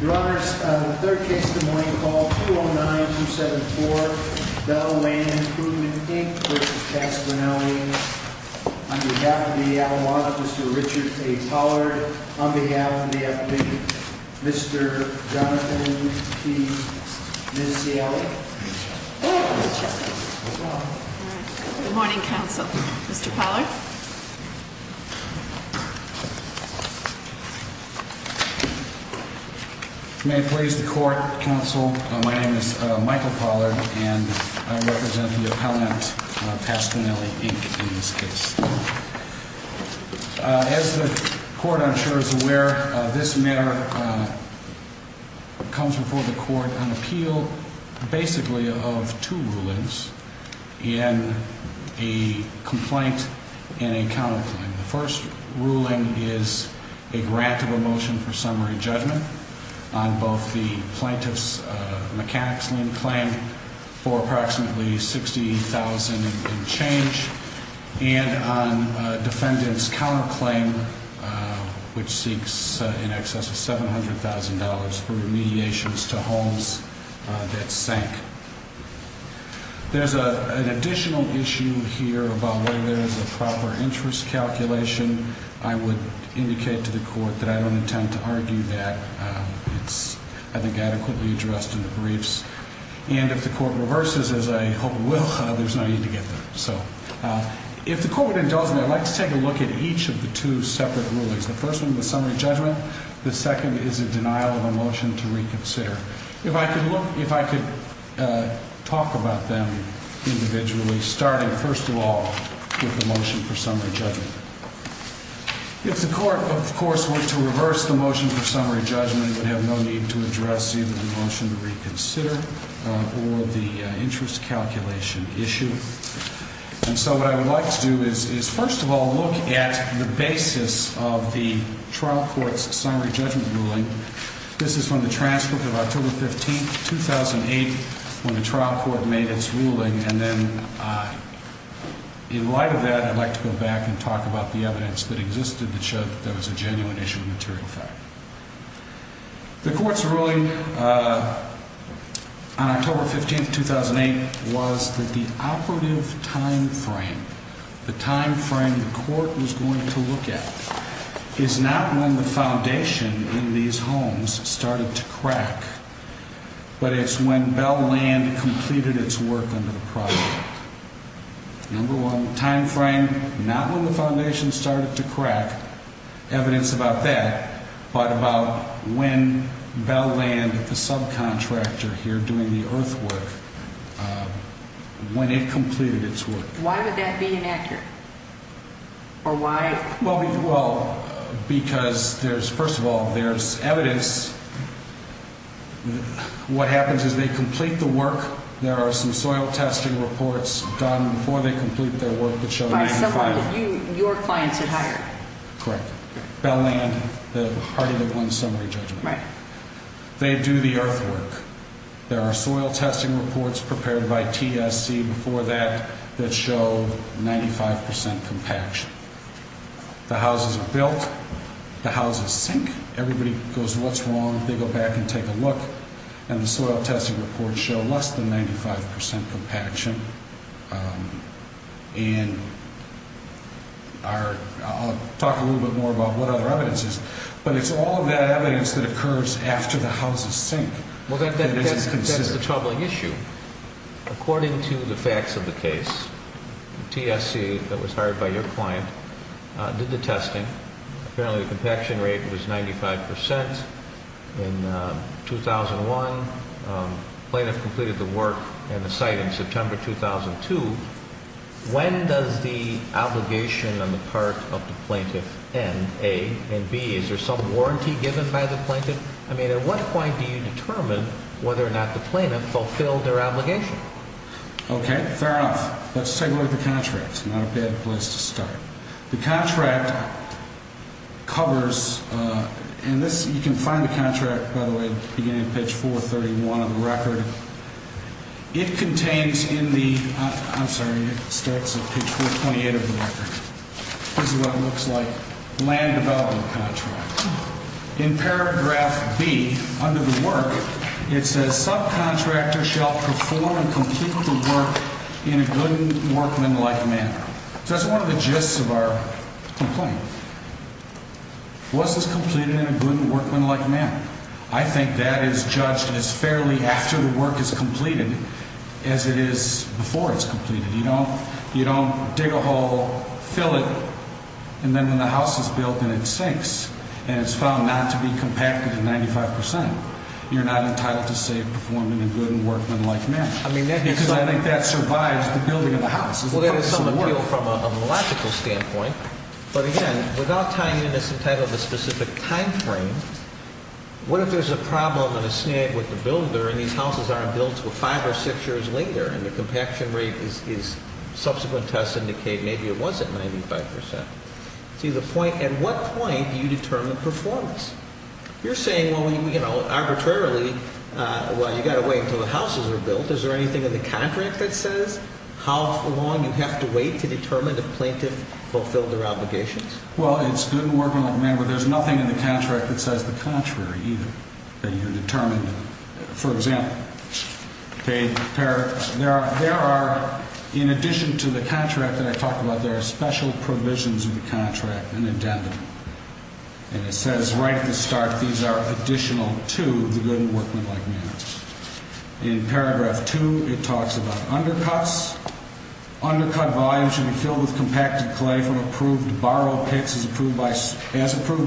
Your Honors, the third case in the morning, call 209-274, Bell Land Improvement, Inc. v. Paquinelli, Inc. On behalf of the Alamog, Mr. Richard A. Pollard. On behalf of the FD, Mr. Jonathan P. Nisiali. Good morning, Mr. Chairman. Good morning. Good morning, counsel. Mr. Pollard. May it please the court, counsel, my name is Michael Pollard, and I represent the appellant Paquinelli, Inc., in this case. As the court, I'm sure, is aware, this matter comes before the court on appeal, basically, of two rulings in a complaint and a counterclaim. The first ruling is a grant of a motion for summary judgment on both the plaintiff's mechanics lien claim for approximately $60,000 in change, and on defendant's counterclaim, which seeks in excess of $700,000 for the plaintiff's claim for $60,000 in change. There's an additional issue here about whether there's a proper interest calculation, I would indicate to the court that I don't intend to argue that. It's, I think, adequately addressed in the briefs, and if the court reverses as I hope will, there's no need to get there. So, if the court would indulge me, I'd like to take a look at each of the two separate rulings. The first one, the summary judgment. The second is a denial of a motion to reconsider. If I could look, if I could talk about them individually, starting first of all with the motion for summary judgment. If the court, of course, were to reverse the motion for summary judgment, it would have no need to address either the motion to reconsider or the interest calculation issue. And so what I would like to do is first of all look at the basis of the trial court's summary judgment ruling. This is from the transcript of October 15, 2008, when the trial court made its ruling. And then in light of that, I'd like to go back and talk about the evidence that existed that showed that there was a genuine issue of material fact. The court's ruling on October 15, 2008, was that the operative time frame, the time frame the court was going to look at, is not when the foundation in these homes started to crack, but it's when Bell Land completed its work under the project. Number one, time frame, not when the foundation started to crack, evidence about that, but about when Bell Land, the subcontractor here doing the earthwork, when it completed its work. Why would that be inaccurate? Or why? Well, because there's, first of all, there's evidence. What happens is they complete the work. There are some soil testing reports done before they complete their work that show that it's final. By someone that you, your clients had hired? Correct. Bell Land, the Hardy-McGlynn summary judgment. They do the earthwork. There are soil testing reports prepared by TSC before that that show 95% compaction. The houses are built. The houses sink. Everybody goes, what's wrong? They go back and take a look. And the soil testing reports show less than 95% compaction. And I'll talk a little bit more about what other evidence is, but it's all of that evidence that occurs after the houses sink that isn't considered. Well, that's the troubling issue. According to the facts of the case, TSC, that was hired by your client, did the testing. Apparently the compaction rate was 95%. In 2001, plaintiff completed the work and the site in September 2002. When does the obligation on the part of the plaintiff end, A? And, B, is there some warranty given by the plaintiff? I mean, at what point do you determine whether or not the plaintiff fulfilled their obligation? Okay, fair enough. Let's take a look at the contract. It's not a bad place to start. The contract covers, and you can find the contract, by the way, beginning of page 431 of the record. It contains in the, I'm sorry, it starts at page 428 of the record. This is what it looks like. Land development contract. In paragraph B, under the work, it says, Subcontractor shall perform and complete the work in a good workmanlike manner. So that's one of the gists of our complaint. Was this completed in a good workmanlike manner? I think that is judged as fairly after the work is completed as it is before it's completed. You don't dig a hole, fill it, and then when the house is built and it sinks and it's found not to be compacted to 95%, you're not entitled to say perform in a good workmanlike manner. Because I think that survives the building of the house. Well, that is some appeal from a logical standpoint. But again, without tying in to some type of a specific time frame, what if there's a problem and a snag with the builder and these houses aren't built until five or six years later and the compaction rate is subsequent tests indicate maybe it wasn't 95%? To the point, at what point do you determine performance? You're saying, well, you know, arbitrarily, well, you've got to wait until the houses are built. Is there anything in the contract that says? How long do you have to wait to determine if a plaintiff fulfilled their obligations? Well, it's good and workmanlike manner, but there's nothing in the contract that says the contrary either. You determine, for example, there are, in addition to the contract that I talked about, there are special provisions in the contract, an addendum. And it says right at the start, these are additional to the good and workmanlike manners. In paragraph two, it talks about undercuts. Undercut volumes should be filled with compacted clay from approved borrow pits as approved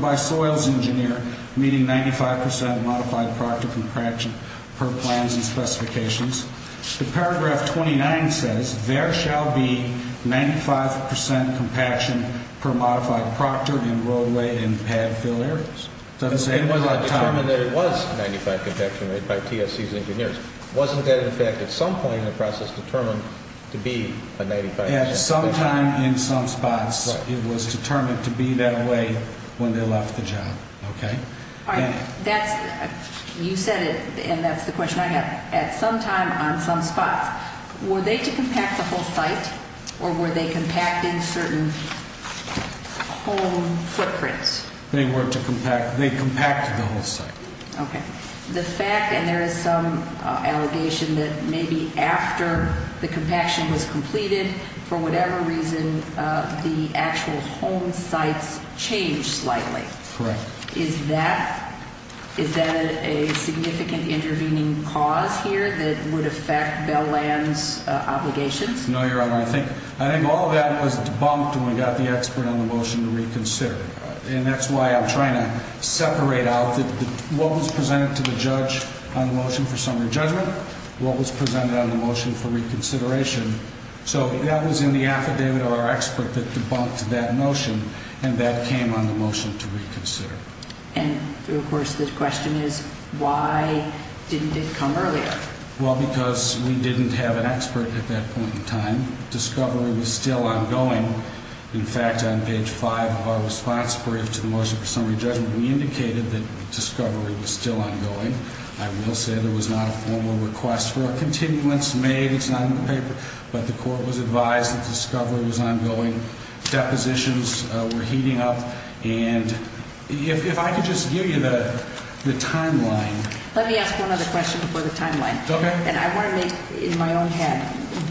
by soils engineer, meaning 95% modified proctor compaction per plans and specifications. Paragraph 29 says there shall be 95% compaction per modified proctor in roadway and pad fill areas. It wasn't determined that it was 95% compaction made by TSC's engineers. Wasn't that in effect at some point in the process determined to be a 95% compaction? At some time in some spots, it was determined to be that way when they left the job. Okay. You said it, and that's the question I have. At some time on some spots, were they to compact the whole site, or were they compacting certain whole footprints? They were to compact. They compacted the whole site. Okay. The fact, and there is some allegation that maybe after the compaction was completed, for whatever reason, the actual home sites changed slightly. Correct. Is that a significant intervening cause here that would affect Bell Land's obligations? No, Your Honor. I think all of that was debunked when we got the expert on the motion to reconsider. And that's why I'm trying to separate out what was presented to the judge on the motion for summary judgment, what was presented on the motion for reconsideration. So that was in the affidavit of our expert that debunked that motion, and that came on the motion to reconsider. And, of course, the question is, why didn't it come earlier? Well, because we didn't have an expert at that point in time. Discovery was still ongoing. In fact, on page 5 of our response brief to the motion for summary judgment, we indicated that discovery was still ongoing. I will say there was not a formal request for a continuance made. It's not in the paper. But the court was advised that discovery was ongoing. Depositions were heating up. And if I could just give you the timeline. Let me ask one other question before the timeline. Okay. And I want to make, in my own head,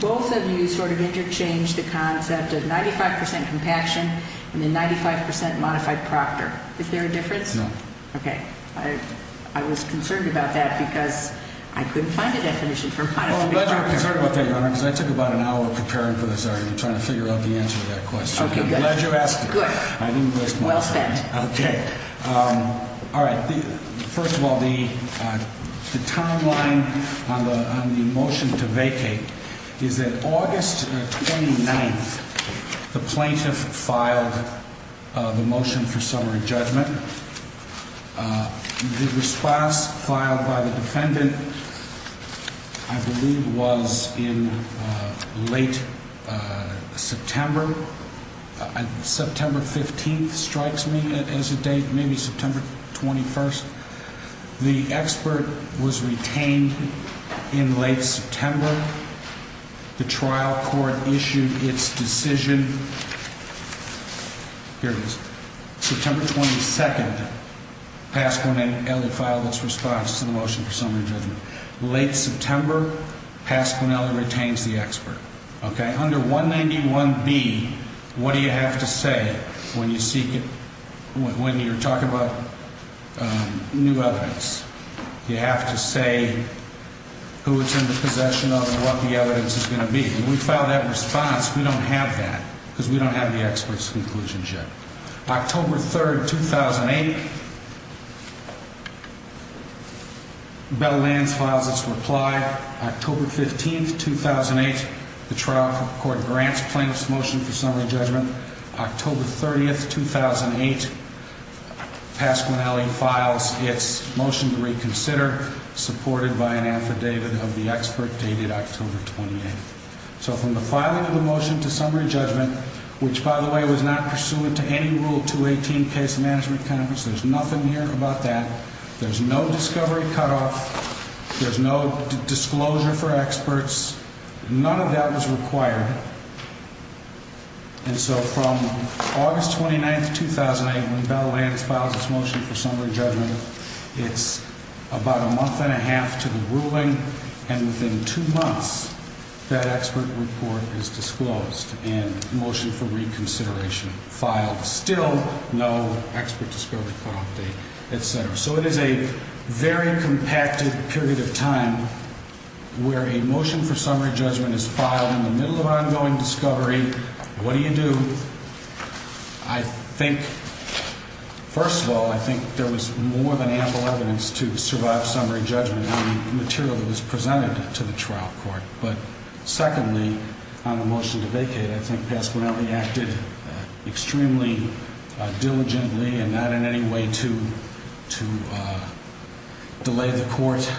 both of you sort of interchanged the concept of 95% compaction and then 95% modified proctor. Is there a difference? No. Okay. I was concerned about that because I couldn't find a definition for modified proctor. Well, I'm glad you were concerned about that, Your Honor, because I took about an hour preparing for this argument trying to figure out the answer to that question. Okay, good. I'm glad you asked it. Good. Well spent. Okay. All right. First of all, the timeline on the motion to vacate is that August 29th, the plaintiff filed the motion for summary judgment. The response filed by the defendant, I believe, was in late September. September 15th strikes me as a date, maybe September 21st. The expert was retained in late September. The trial court issued its decision. Here it is. September 22nd, Pasquinelli filed its response to the motion for summary judgment. Late September, Pasquinelli retains the expert. Under 191B, what do you have to say when you're talking about new evidence? You have to say who is in the possession of what the evidence is going to be. When we file that response, we don't have that because we don't have the expert's conclusions yet. October 3rd, 2008, Bell-Lanz files its reply. October 15th, 2008, the trial court grants plaintiff's motion for summary judgment. October 30th, 2008, Pasquinelli files its motion to reconsider, supported by an affidavit of the expert dated October 28th. So from the filing of the motion to summary judgment, which, by the way, was not pursuant to any Rule 218 Case Management Conference. There's nothing here about that. There's no discovery cutoff. There's no disclosure for experts. None of that was required. And so from August 29th, 2008, when Bell-Lanz files its motion for summary judgment, it's about a month and a half to the ruling. And within two months, that expert report is disclosed and motion for reconsideration filed. Still no expert discovery cutoff date, et cetera. So it is a very compacted period of time where a motion for summary judgment is filed in the middle of ongoing discovery. What do you do? I think, first of all, I think there was more than ample evidence to survive summary judgment on the material that was presented to the trial court. But secondly, on the motion to vacate, I think Pasquinelli acted extremely diligently and not in any way to delay the court.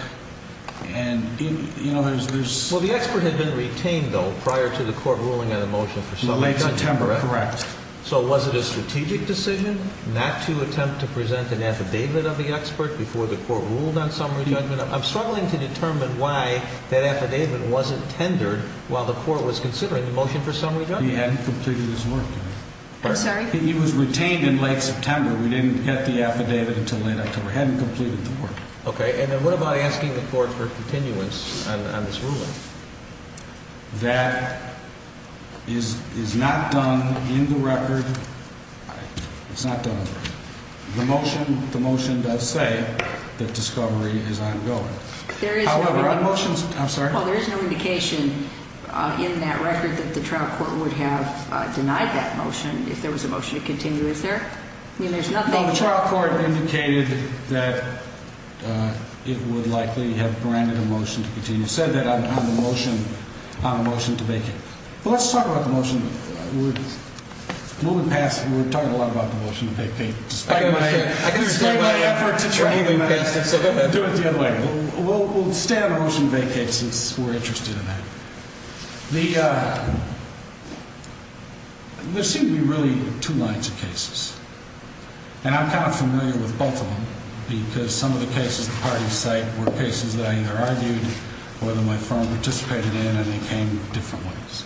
Well, the expert had been retained, though, prior to the court ruling on the motion for summary judgment, correct? Correct. So was it a strategic decision not to attempt to present an affidavit of the expert before the court ruled on summary judgment? I'm struggling to determine why that affidavit wasn't tendered while the court was considering the motion for summary judgment. He hadn't completed his work. I'm sorry? He was retained in late September. We didn't get the affidavit until late October. He hadn't completed the work. Okay. And then what about asking the court for continuance on this ruling? That is not done in the record. It's not done. The motion does say that discovery is ongoing. There is no indication in that record that the trial court would have denied that motion if there was a motion to continue. Is there? No, the trial court indicated that it would likely have granted a motion to continue. It said that on the motion to vacate. But let's talk about the motion. We'll move past it. We've talked a lot about the motion to vacate. Despite my effort to try to move past it. Let's do it the other way. We'll stay on the motion to vacate since we're interested in that. There seem to be really two lines of cases. And I'm kind of familiar with both of them because some of the cases the parties cite were cases that I either argued or that my firm participated in and they came in different ways.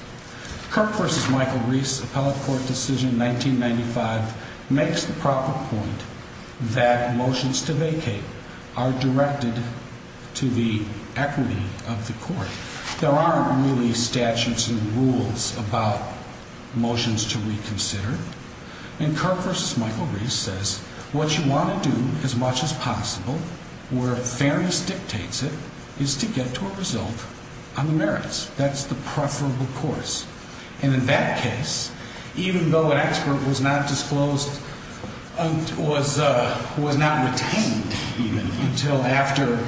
Kirk v. Michael Reese Appellate Court decision 1995 makes the proper point that motions to vacate are directed to the equity of the court. There aren't really statutes and rules about motions to reconsider. And Kirk v. Michael Reese says what you want to do as much as possible where fairness dictates it is to get to a result on the merits. That's the preferable course. And in that case, even though an expert was not disclosed, was not retained even until after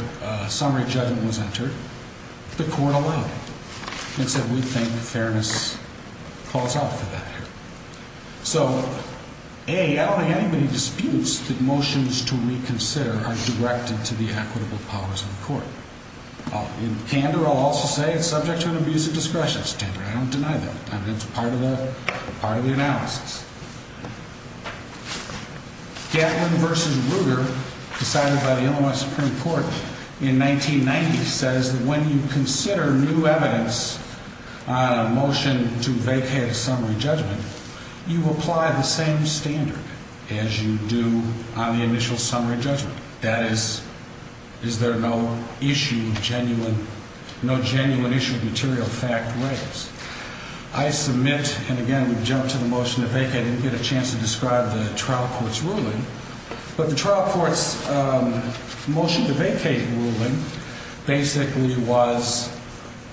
summary judgment was entered, the court allowed it. It said we think fairness calls out for that here. So, A, I don't think anybody disputes that motions to reconsider are directed to the equitable powers of the court. In candor, I'll also say it's subject to an abuse of discretion standard. I don't deny that. I mean, it's part of the analysis. Gatlin v. Ruger decided by the Illinois Supreme Court in 1990 says that when you consider new evidence on a motion to vacate a summary judgment, you apply the same standard as you do on the initial summary judgment. That is, is there no issue, genuine, no genuine issue of material fact raised. I submit, and again, we've jumped to the motion to vacate. I didn't get a chance to describe the trial court's ruling. But the trial court's motion to vacate ruling basically was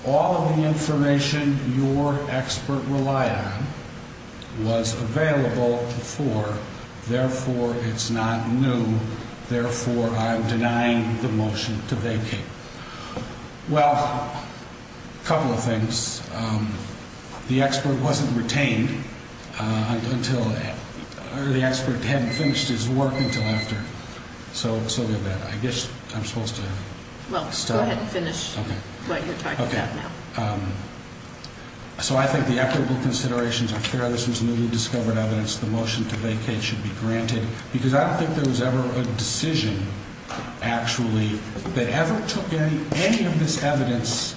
all of the information your expert relied on was available before. Therefore, it's not new. Therefore, I'm denying the motion to vacate. Well, a couple of things. The expert wasn't retained until, or the expert hadn't finished his work until after. So, I guess I'm supposed to. Well, go ahead and finish what you're talking about now. Okay. So, I think the equitable considerations are fair. This was newly discovered evidence. The motion to vacate should be granted. Because I don't think there was ever a decision, actually, that ever took any of this evidence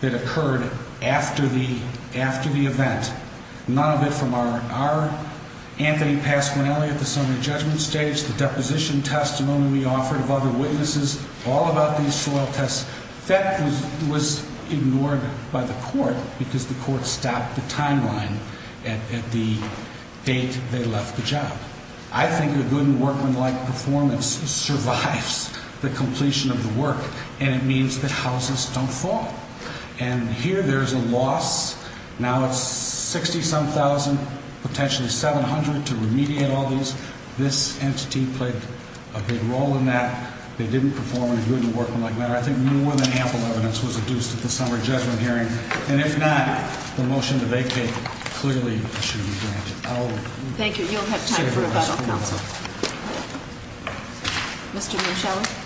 that occurred after the event. None of it from our Anthony Pasquinelli at the summary judgment stage, the deposition testimony we offered of other witnesses, all about these soil tests. That was ignored by the court because the court stopped the timeline at the date they left the job. I think a good and workmanlike performance survives the completion of the work. And it means that houses don't fall. And here there's a loss. Now it's 60-some thousand, potentially 700 to remediate all these. This entity played a big role in that. They didn't perform in a good and workmanlike manner. I think more than ample evidence was adduced at the summary judgment hearing. And if not, the motion to vacate clearly should be granted. Thank you. You'll have time for rebuttal, counsel. Mr. Michelli.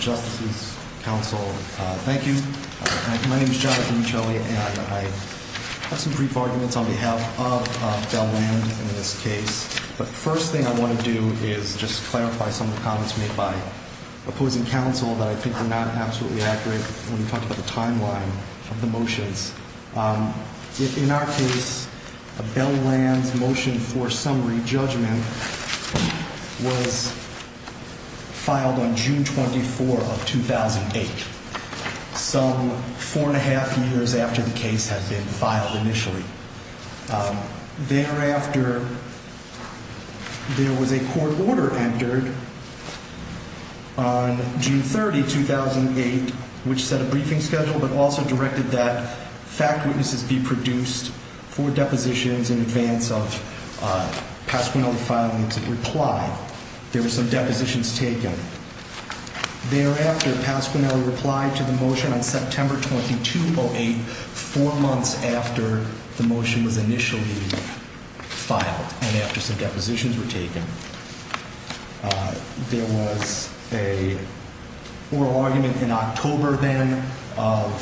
Justices, counsel, thank you. My name is Jonathan Michelli, and I have some brief arguments on behalf of Bell-Land in this case. The first thing I want to do is just clarify some of the comments made by opposing counsel that I think are not absolutely accurate when we talk about the timeline of the motions. In our case, Bell-Land's motion for summary judgment was filed on June 24 of 2008. Some four and a half years after the case had been filed initially. Thereafter, there was a court order entered on June 30, 2008, which set a briefing schedule but also directed that fact witnesses be produced for depositions in advance of Pasquinelli filing to reply. There were some depositions taken. Thereafter, Pasquinelli replied to the motion on September 22, 2008, four months after the motion was initially filed and after some depositions were taken. There was an oral argument in October then of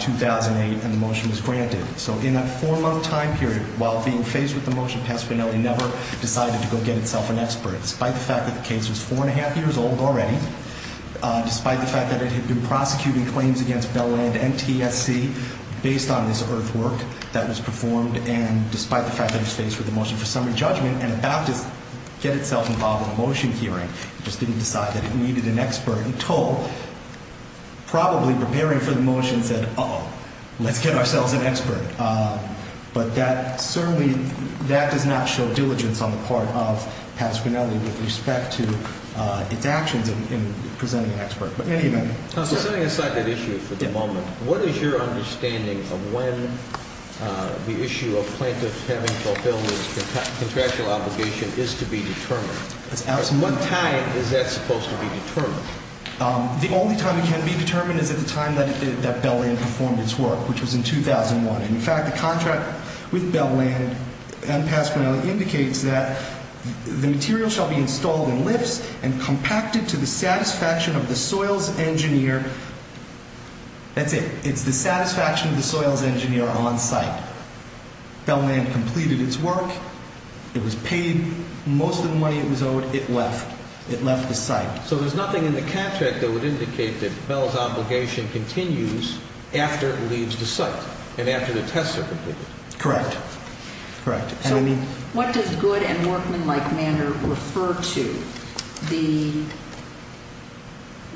2008, and the motion was granted. So in that four-month time period, while being faced with the motion, Pasquinelli never decided to go get itself an expert. Despite the fact that the case was four and a half years old already, despite the fact that it had been prosecuting claims against Bell-Land and TSC based on this earthwork that was performed, and despite the fact that it was faced with a motion for summary judgment and about to get itself involved in a motion hearing, it just didn't decide that it needed an expert until probably preparing for the motion said, uh-oh, let's get ourselves an expert. But that certainly, that does not show diligence on the part of Pasquinelli with respect to its actions in presenting an expert. But in any event. Setting aside that issue for the moment, what is your understanding of when the issue of plaintiffs having fulfilled their contractual obligation is to be determined? What time is that supposed to be determined? The only time it can be determined is at the time that Bell-Land performed its work, which was in 2001. In fact, the contract with Bell-Land and Pasquinelli indicates that the material shall be installed in lifts and compacted to the satisfaction of the soils engineer. That's it. It's the satisfaction of the soils engineer on site. Bell-Land completed its work. It was paid. Most of the money it was owed, it left. It left the site. So there's nothing in the contract that would indicate that Bell's obligation continues after it leaves the site and after the tests are completed. Correct. Correct. So what does good and workmanlike manner refer to?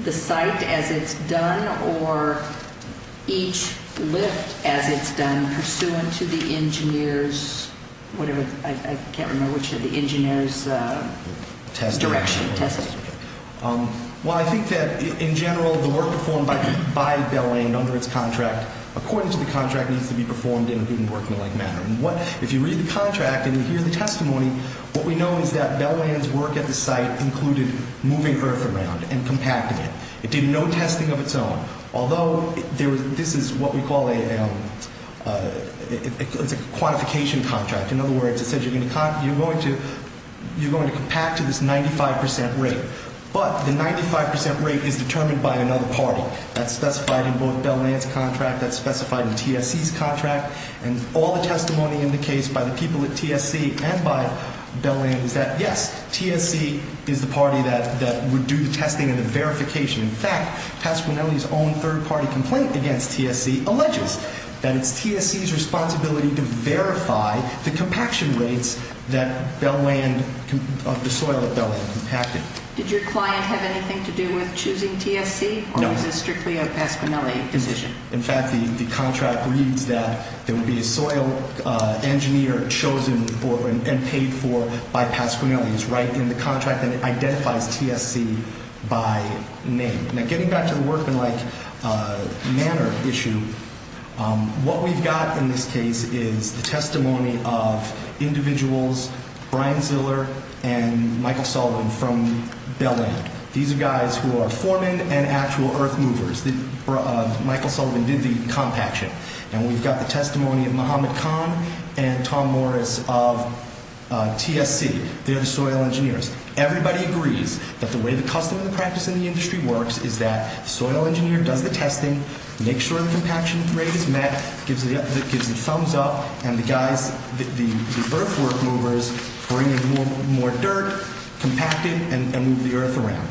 The site as it's done or each lift as it's done pursuant to the engineer's, whatever, I can't remember which of the engineer's direction. Well, I think that in general the work performed by Bell-Land under its contract, according to the contract, needs to be performed in a good and workmanlike manner. If you read the contract and you hear the testimony, what we know is that Bell-Land's work at the site included moving earth around and compacting it. It did no testing of its own. Although this is what we call a quantification contract. In other words, it says you're going to compact to this 95% rate. But the 95% rate is determined by another party. That's specified in both Bell-Land's contract. That's specified in TSC's contract. And all the testimony in the case by the people at TSC and by Bell-Land is that, yes, TSC is the party that would do the testing and the verification. In fact, Pasquinelli's own third-party complaint against TSC alleges that it's TSC's responsibility to verify the compaction rates that Bell-Land, the soil at Bell-Land compacted. Did your client have anything to do with choosing TSC? No. Or was this strictly a Pasquinelli decision? In fact, the contract reads that there would be a soil engineer chosen and paid for by Pasquinelli. It's right in the contract that identifies TSC by name. Now, getting back to the workmanlike manner issue, what we've got in this case is the testimony of individuals, Brian Ziller and Michael Sullivan from Bell-Land. These are guys who are foremen and actual earth movers. Michael Sullivan did the compaction. And we've got the testimony of Mohammed Khan and Tom Morris of TSC. They're the soil engineers. Everybody agrees that the way the custom and the practice in the industry works is that the soil engineer does the testing, makes sure the compaction rate is met, gives the thumbs up, and the guys, the earth work movers, bring in more dirt, compact it, and move the earth around.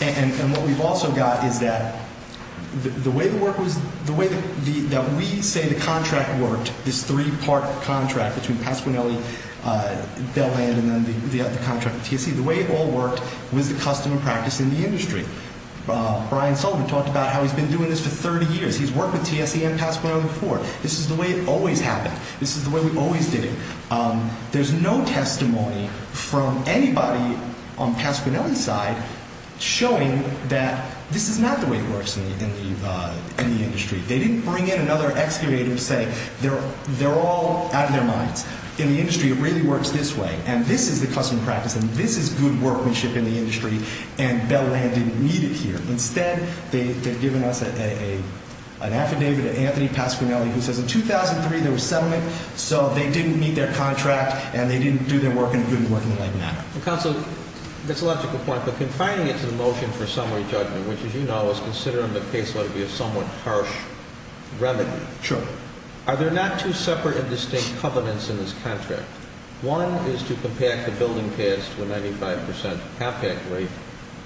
And what we've also got is that the way that we say the contract worked, this three-part contract between Pasquinelli, Bell-Land, and then the contract with TSC, the way it all worked was the custom and practice in the industry. Brian Sullivan talked about how he's been doing this for 30 years. He's worked with TSC and Pasquinelli before. This is the way it always happened. This is the way we always did it. There's no testimony from anybody on Pasquinelli's side showing that this is not the way it works in the industry. They didn't bring in another excavator to say they're all out of their minds. In the industry, it really works this way, and this is the custom and practice, and this is good workmanship in the industry, and Bell-Land didn't need it here. Instead, they've given us an affidavit of Anthony Pasquinelli who says in 2003, there was settlement, so they didn't meet their contract, and they didn't do their work in a good and working way. Counsel, that's a logical point, but confining it to the motion for summary judgment, which, as you know, is considering the caseload to be a somewhat harsh remedy. Sure. Are there not two separate and distinct covenants in this contract? One is to compact the building paths to a 95% compact rate,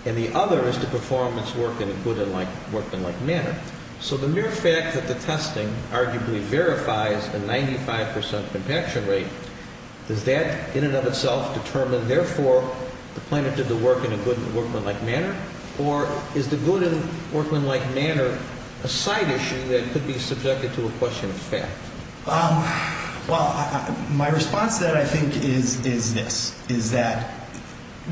and the other is to perform its work in a good and workmanlike manner. So the mere fact that the testing arguably verifies a 95% compaction rate, does that in and of itself determine, therefore, the plaintiff did the work in a good and workmanlike manner? Or is the good and workmanlike manner a side issue that could be subjected to a question of fact? Well, my response to that, I think, is this, is that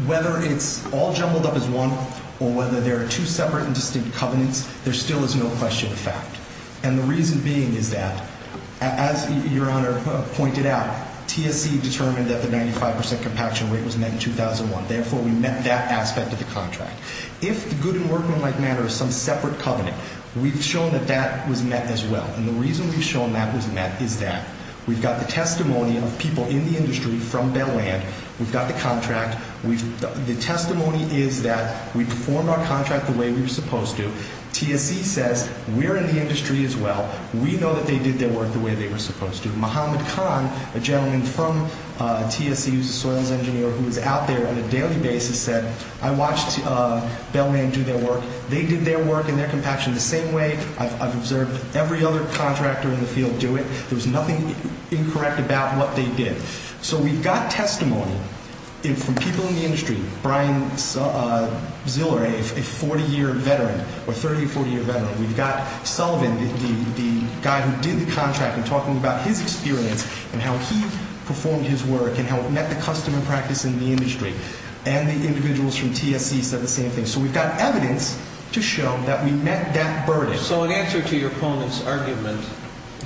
whether it's all jumbled up as one or whether there are two separate and distinct covenants, there still is no question of fact. And the reason being is that, as Your Honor pointed out, TSC determined that the 95% compaction rate was met in 2001. Therefore, we met that aspect of the contract. If the good and workmanlike manner is some separate covenant, we've shown that that was met as well. And the reason we've shown that was met is that we've got the testimony of people in the industry from Belland. We've got the contract. The testimony is that we performed our contract the way we were supposed to. TSC says we're in the industry as well. We know that they did their work the way they were supposed to. Muhammad Khan, a gentleman from TSC who's a soils engineer who was out there on a daily basis, said, I watched Belland do their work. They did their work and their compaction the same way. I've observed every other contractor in the field do it. There was nothing incorrect about what they did. So we've got testimony from people in the industry, Brian Ziller, a 40-year veteran or 30-, 40-year veteran. We've got Sullivan, the guy who did the contract, and talking about his experience and how he performed his work and how it met the customer practice in the industry. And the individuals from TSC said the same thing. So we've got evidence to show that we met that burden. So in answer to your opponent's argument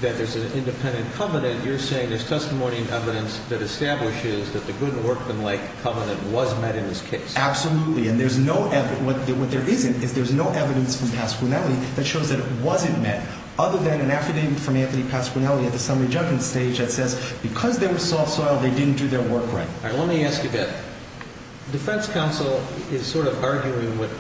that there's an independent covenant, you're saying there's testimony and evidence that establishes that the Good Workmen Lake Covenant was met in this case? Absolutely. And there's no evidence. What there isn't is there's no evidence from Pasquinelli that shows that it wasn't met other than an affidavit from Anthony Pasquinelli at the summary judgment stage that says because they were soft soil, they didn't do their work right. All right. Let me ask you that. The defense counsel is sort of arguing what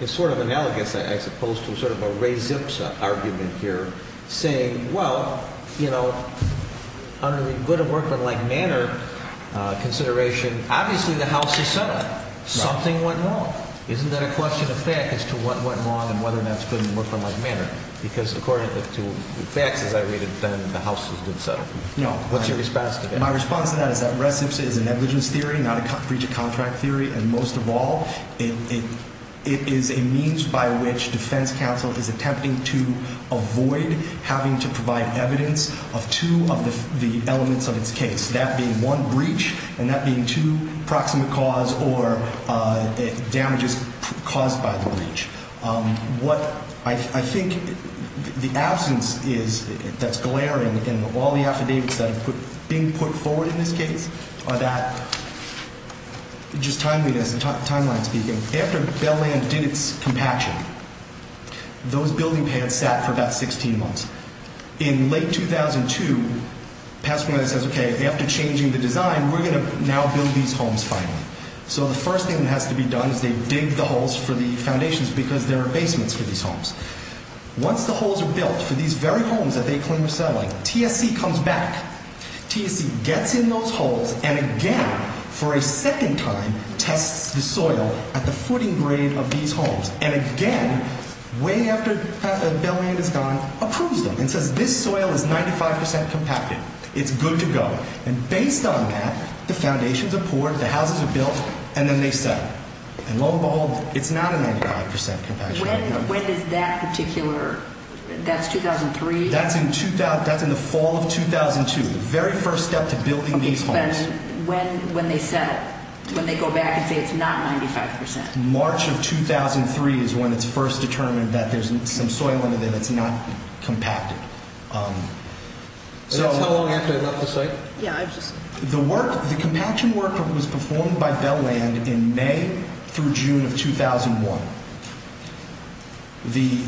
is sort of analogous, as opposed to sort of a res ipsa argument here, saying, well, you know, under the Good Workmen Lake Manor consideration, obviously the house is settled. Something went wrong. Isn't that a question of fact as to what went wrong and whether or not it's good in the Workmen Lake Manor? Because according to the facts as I read it, then the house is settled. What's your response to that? My response to that is that res ipsa is a negligence theory, not a breach of contract theory. And most of all, it is a means by which defense counsel is attempting to avoid having to provide evidence of two of the elements of its case, that being one breach and that being two proximate cause or damages caused by the breach. What I think the absence is that's glaring in all the affidavits that are being put forward in this case are that, just timeliness and timeline speaking, after Bell Land did its compaction, those building pans sat for about 16 months. In late 2002, Pasadena says, okay, after changing the design, we're going to now build these homes finally. So the first thing that has to be done is they dig the holes for the foundations because there are basements for these homes. Once the holes are built for these very homes that they claim are settling, TSC comes back. TSC gets in those holes and again, for a second time, tests the soil at the footing grade of these homes. And again, way after Bell Land is gone, approves them and says this soil is 95% compacted. It's good to go. And based on that, the foundations are poured, the houses are built, and then they settle. And lo and behold, it's not a 95% compaction. When is that particular, that's 2003? That's in the fall of 2002, the very first step to building these homes. When they set it, when they go back and say it's not 95%? March of 2003 is when it's first determined that there's some soil under there that's not compacted. And that's how long after they left the site? Yeah. The compaction work was performed by Bell Land in May through June of 2001. The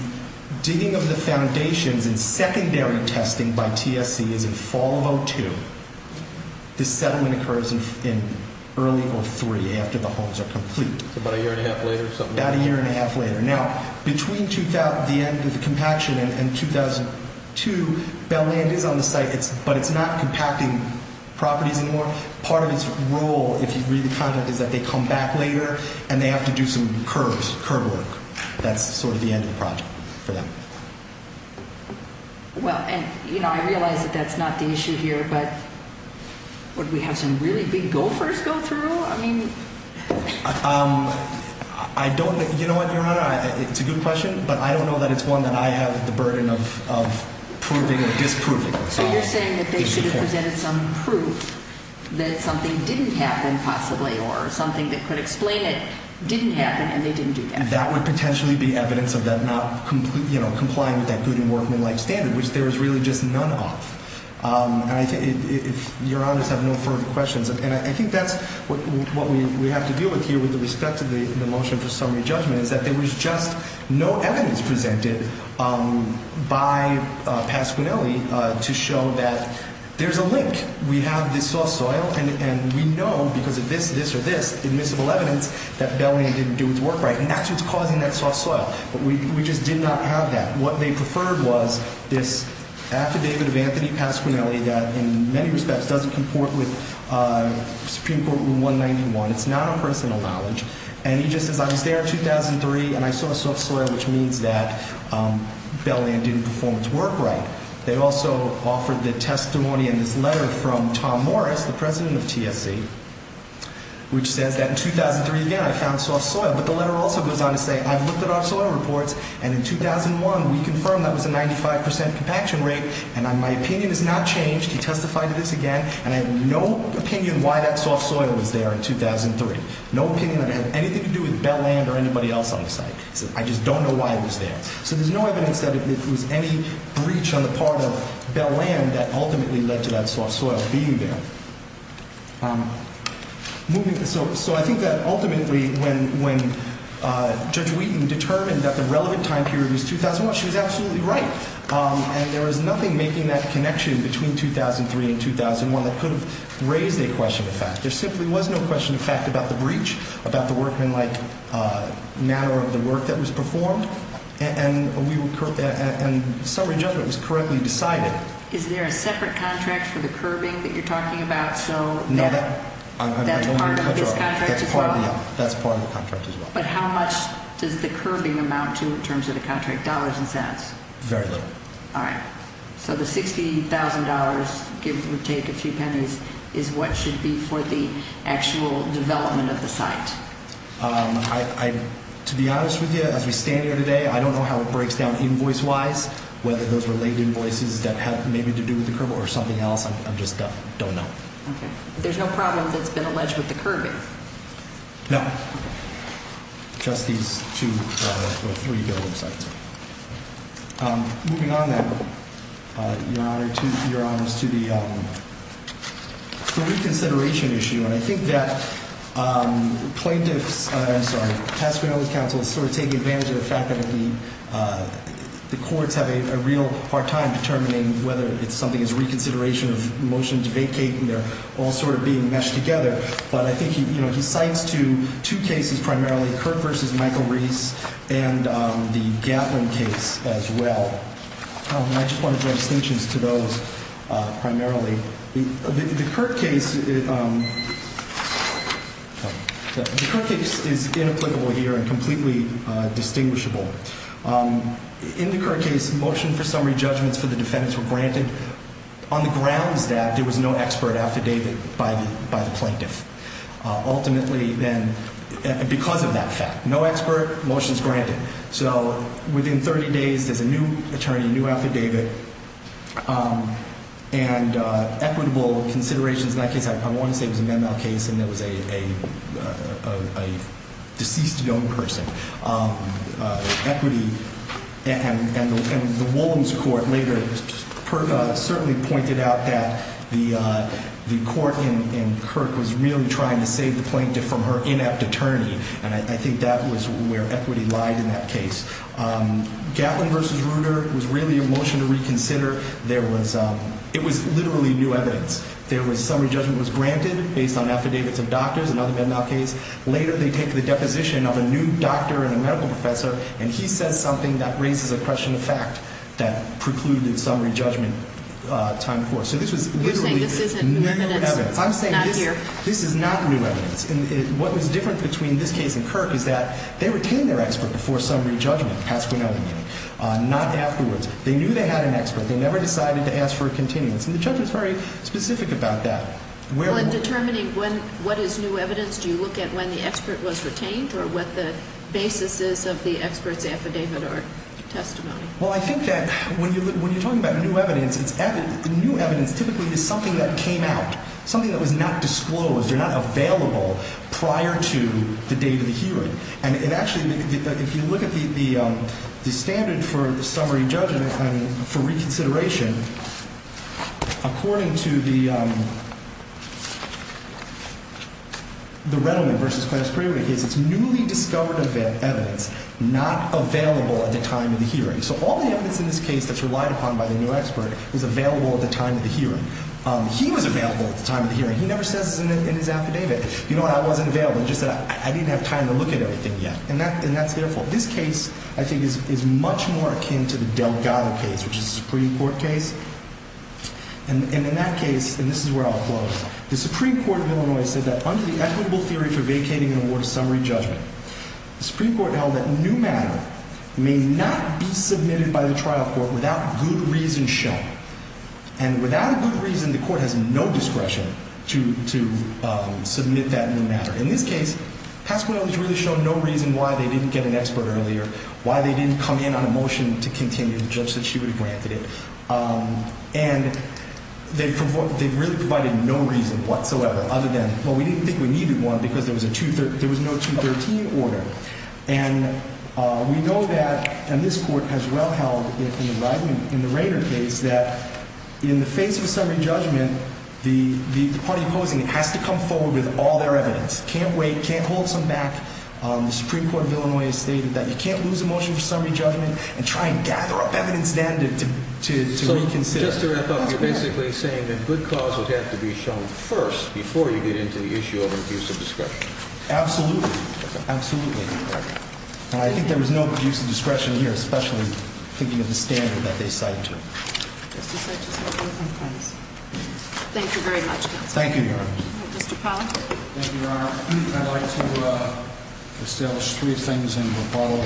digging of the foundations and secondary testing by TSC is in fall of 2002. The settlement occurs in early 2003 after the homes are complete. So about a year and a half later? About a year and a half later. Now, between the end of the compaction and 2002, Bell Land is on the site, but it's not compacting properties anymore. Part of its role, if you read the content, is that they come back later and they have to do some curb work. That's sort of the end of the project for them. Well, and I realize that that's not the issue here, but would we have some really big gophers go through? I don't know. You know what, Your Honor, it's a good question, but I don't know that it's one that I have the burden of proving or disproving. So you're saying that they should have presented some proof that something didn't happen possibly or something that could explain it didn't happen and they didn't do that? That would potentially be evidence of them not complying with that good and working life standard, which there is really just none of. Your Honors have no further questions, and I think that's what we have to deal with here with respect to the motion for summary judgment is that there was just no evidence presented by Pat Squinelli to show that there's a link. We have this soft soil, and we know because of this, this, or this admissible evidence that Bell Land didn't do its work right, and that's what's causing that soft soil, but we just did not have that. What they preferred was this affidavit of Anthony Pat Squinelli that in many respects doesn't comport with Supreme Court Rule 191. It's not on personal knowledge, and he just says, I was there in 2003, and I saw soft soil, which means that Bell Land didn't perform its work right. They also offered the testimony in this letter from Tom Morris, the president of TSC, which says that in 2003, again, I found soft soil, but the letter also goes on to say, I've looked at our soil reports, and in 2001, we confirmed that was a 95% compaction rate, and my opinion has not changed. He testified to this again, and I have no opinion why that soft soil was there in 2003. No opinion that had anything to do with Bell Land or anybody else on the site. I just don't know why it was there. So there's no evidence that it was any breach on the part of Bell Land that ultimately led to that soft soil being there. So I think that ultimately when Judge Wheaton determined that the relevant time period was 2001, she was absolutely right, and there was nothing making that connection between 2003 and 2001 that could have raised a question of fact. There simply was no question of fact about the breach, about the workmanlike manner of the work that was performed, and summary judgment was correctly decided. So is there a separate contract for the curbing that you're talking about? No, that's part of the contract as well. That's part of the contract as well. But how much does the curbing amount to in terms of the contract dollars and cents? Very little. All right. So the $60,000, give or take a few pennies, is what should be for the actual development of the site? To be honest with you, as we stand here today, I don't know how it breaks down invoice-wise, whether those were late invoices that had maybe to do with the curbing or something else. I just don't know. Okay. There's no problem that's been alleged with the curbing? No, just these two or three building sites. Moving on, then, Your Honor, to the reconsideration issue. And I think that plaintiff's – I'm sorry – Pasquino's counsel is sort of taking advantage of the fact that the courts have a real hard time determining whether it's something as reconsideration of motion to vacate and they're all sort of being meshed together. But I think he cites two cases primarily, Kirk v. Michael Reese and the Gatlin case as well. And I just want to draw distinctions to those primarily. The Kirk case is inapplicable here and completely distinguishable. In the Kirk case, motion for summary judgments for the defendants were granted on the grounds that there was no expert affidavit by the plaintiff. Ultimately then, because of that fact, no expert, motions granted. So within 30 days, there's a new attorney, a new affidavit, and equitable considerations. In that case, I want to say it was an ML case and it was a deceased young person. Equity – and the Wolins Court later certainly pointed out that the court in Kirk was really trying to save the plaintiff from her inept attorney. And I think that was where equity lied in that case. Gatlin v. Reuter was really a motion to reconsider. There was – it was literally new evidence. There was – summary judgment was granted based on affidavits of doctors, another Bednow case. Later, they take the deposition of a new doctor and a medical professor, and he says something that raises a question of fact that precluded summary judgment time before. So this was literally new evidence. I'm saying this is not new evidence. And what was different between this case and Kirk is that they retained their expert before summary judgment, past quinoa meaning, not afterwards. They knew they had an expert. They never decided to ask for a continuance. And the judge was very specific about that. Well, in determining when – what is new evidence, do you look at when the expert was retained or what the basis is of the expert's affidavit or testimony? Well, I think that when you're talking about new evidence, it's – the new evidence typically is something that came out, something that was not disclosed or not available prior to the date of the hearing. And it actually – if you look at the standard for summary judgment and for reconsideration, according to the – the Redlman v. Clare's Priory case, it's newly discovered evidence not available at the time of the hearing. So all the evidence in this case that's relied upon by the new expert was available at the time of the hearing. He was available at the time of the hearing. He never says in his affidavit, you know what, I wasn't available. He just said I didn't have time to look at everything yet. And that's their fault. This case, I think, is much more akin to the Delgado case, which is a Supreme Court case. And in that case – and this is where I'll close – the Supreme Court of Illinois said that under the equitable theory for vacating an award of summary judgment, the Supreme Court held that new matter may not be submitted by the trial court without good reason shown. And without a good reason, the court has no discretion to submit that new matter. In this case, passable evidence really showed no reason why they didn't get an expert earlier, why they didn't come in on a motion to continue, the judge said she would have granted it. And they really provided no reason whatsoever other than, well, we didn't think we needed one because there was a – there was no 213 order. And we know that – and this court has well held in the Rainer case that in the face of a summary judgment, the party opposing it has to come forward with all their evidence. Can't wait, can't hold some back. The Supreme Court of Illinois has stated that you can't lose a motion for summary judgment and try and gather up evidence then to reconsider. So just to wrap up, you're basically saying that good cause would have to be shown first before you get into the issue of infusive discretion. Absolutely. And I think there was no abuse of discretion here, especially thinking of the standard that they cite to it. Thank you very much, counsel. Thank you, Your Honor. Mr. Pollard. Thank you, Your Honor. I'd like to establish three things in Rapallo.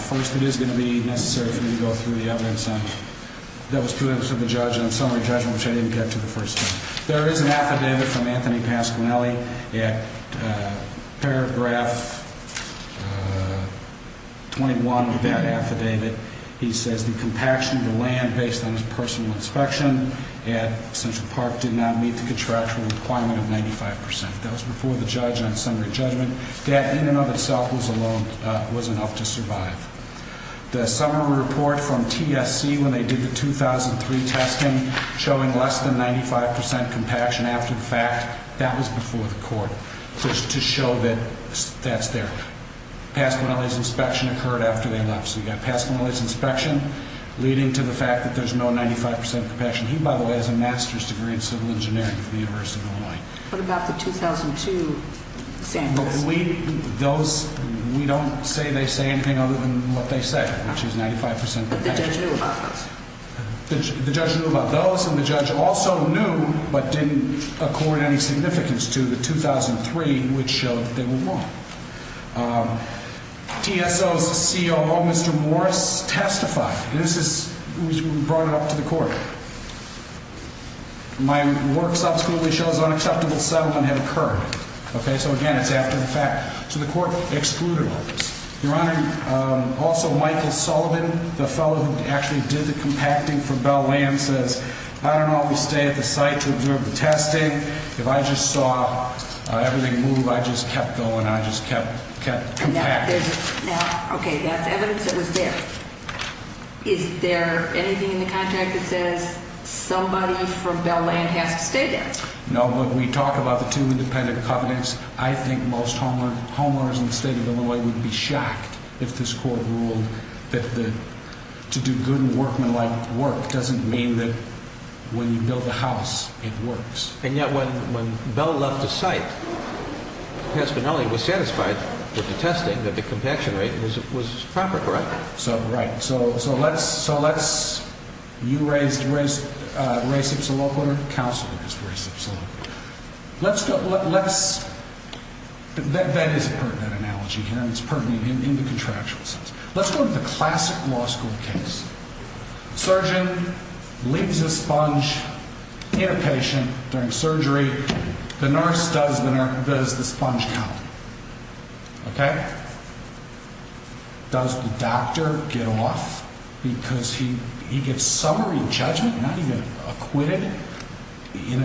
First, it is going to be necessary for me to go through the evidence that was presented to the judge on summary judgment, which I didn't get to the first time. There is an affidavit from Anthony Pasquinelli at paragraph 21 of that affidavit. He says the compaction of the land based on his personal inspection at Central Park did not meet the contractual requirement of 95 percent. That was before the judge on summary judgment. That in and of itself was enough to survive. The summary report from TSC when they did the 2003 testing showing less than 95 percent compaction after the fact, that was before the court to show that that's there. Pasquinelli's inspection occurred after they left. So you've got Pasquinelli's inspection leading to the fact that there's no 95 percent compaction. He, by the way, has a master's degree in civil engineering from the University of Illinois. What about the 2002 sample? We don't say they say anything other than what they say, which is 95 percent compaction. But the judge knew about those. The judge knew about those, and the judge also knew but didn't accord any significance to the 2003, which showed that they were wrong. TSO's COO, Mr. Morris, testified. This is brought up to the court. My work subsequently shows unacceptable settlement had occurred. So, again, it's after the fact. So the court excluded all this. Your Honor, also Michael Sullivan, the fellow who actually did the compacting for Bell-Land, says, I don't always stay at the site to observe the testing. If I just saw everything move, I just kept going. I just kept compacting. Okay, that's evidence that was there. Is there anything in the contract that says somebody from Bell-Land has to stay there? No, but we talk about the two independent covenants. I think most homeowners in the state of Illinois would be shocked if this court ruled that to do good and workmanlike work doesn't mean that when you build a house it works. And yet when Bell left the site, Pat Spinelli was satisfied with the testing, that the compaction rate was proper, correct? Right. Okay, so let's, you raised race obsolete, counselor raised race obsolete. Let's go, let's, that is a pertinent analogy here, and it's pertinent in the contractual sense. Let's go to the classic law school case. Surgeon leaves a sponge in a patient during surgery. The nurse does the sponge count. Okay? Does the doctor get off because he gets summary judgment, not even acquitted, and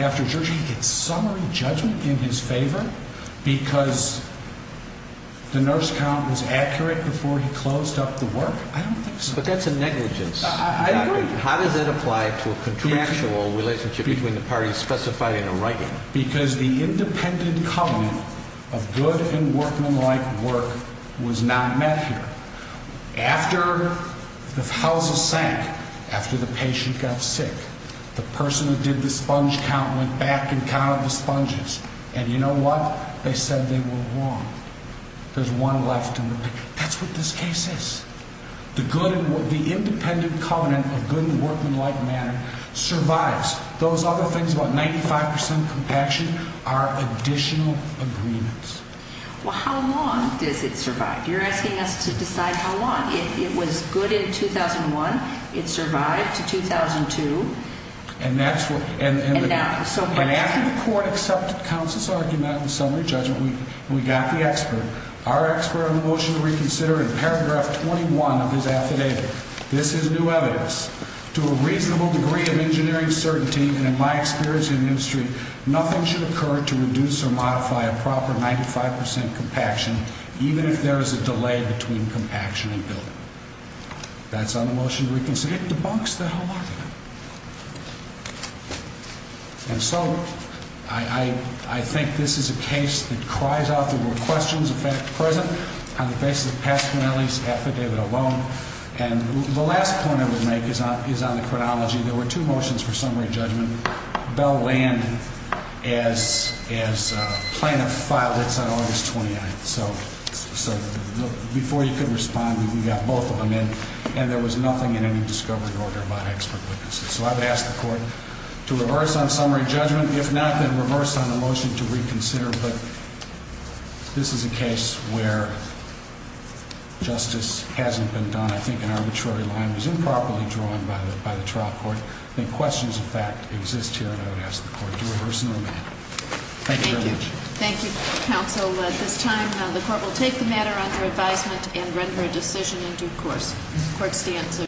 after surgery he gets summary judgment in his favor because the nurse count was accurate before he closed up the work? I don't think so. But that's a negligence. I agree. How does that apply to a contractual relationship between the parties specified in the writing? Because the independent covenant of good and workmanlike work was not met here. After the house sank, after the patient got sick, the person who did the sponge count went back and counted the sponges, and you know what? They said they were wrong. There's one left in the picture. That's what this case is. The independent covenant of good and workmanlike manner survives. Those other things, about 95% compaction, are additional agreements. Well, how long does it survive? You're asking us to decide how long. It was good in 2001. It survived to 2002. And that's what – And now. And after the court accepted counsel's argument and summary judgment, we got the expert. Our expert on the motion to reconsider in paragraph 21 of his affidavit. This is new evidence. To a reasonable degree of engineering certainty, and in my experience in the industry, nothing should occur to reduce or modify a proper 95% compaction, even if there is a delay between compaction and building. That's on the motion to reconsider. It debunks the whole argument. And so I think this is a case that cries out the word questions present on the basis of past penalties, affidavit alone. And the last point I would make is on the chronology. There were two motions for summary judgment. Bell landed as plaintiff filed its on August 29th. So before you could respond, we got both of them in. And there was nothing in any discovery order about expert witnesses. So I would ask the court to reverse on summary judgment. If not, then reverse on the motion to reconsider. But this is a case where justice hasn't been done. I think an arbitrary line was improperly drawn by the trial court. I think questions of fact exist here, and I would ask the court to reverse no matter. Thank you very much. Thank you. Thank you, counsel. At this time, the court will take the matter under advisement and render a decision in due course. Court stands.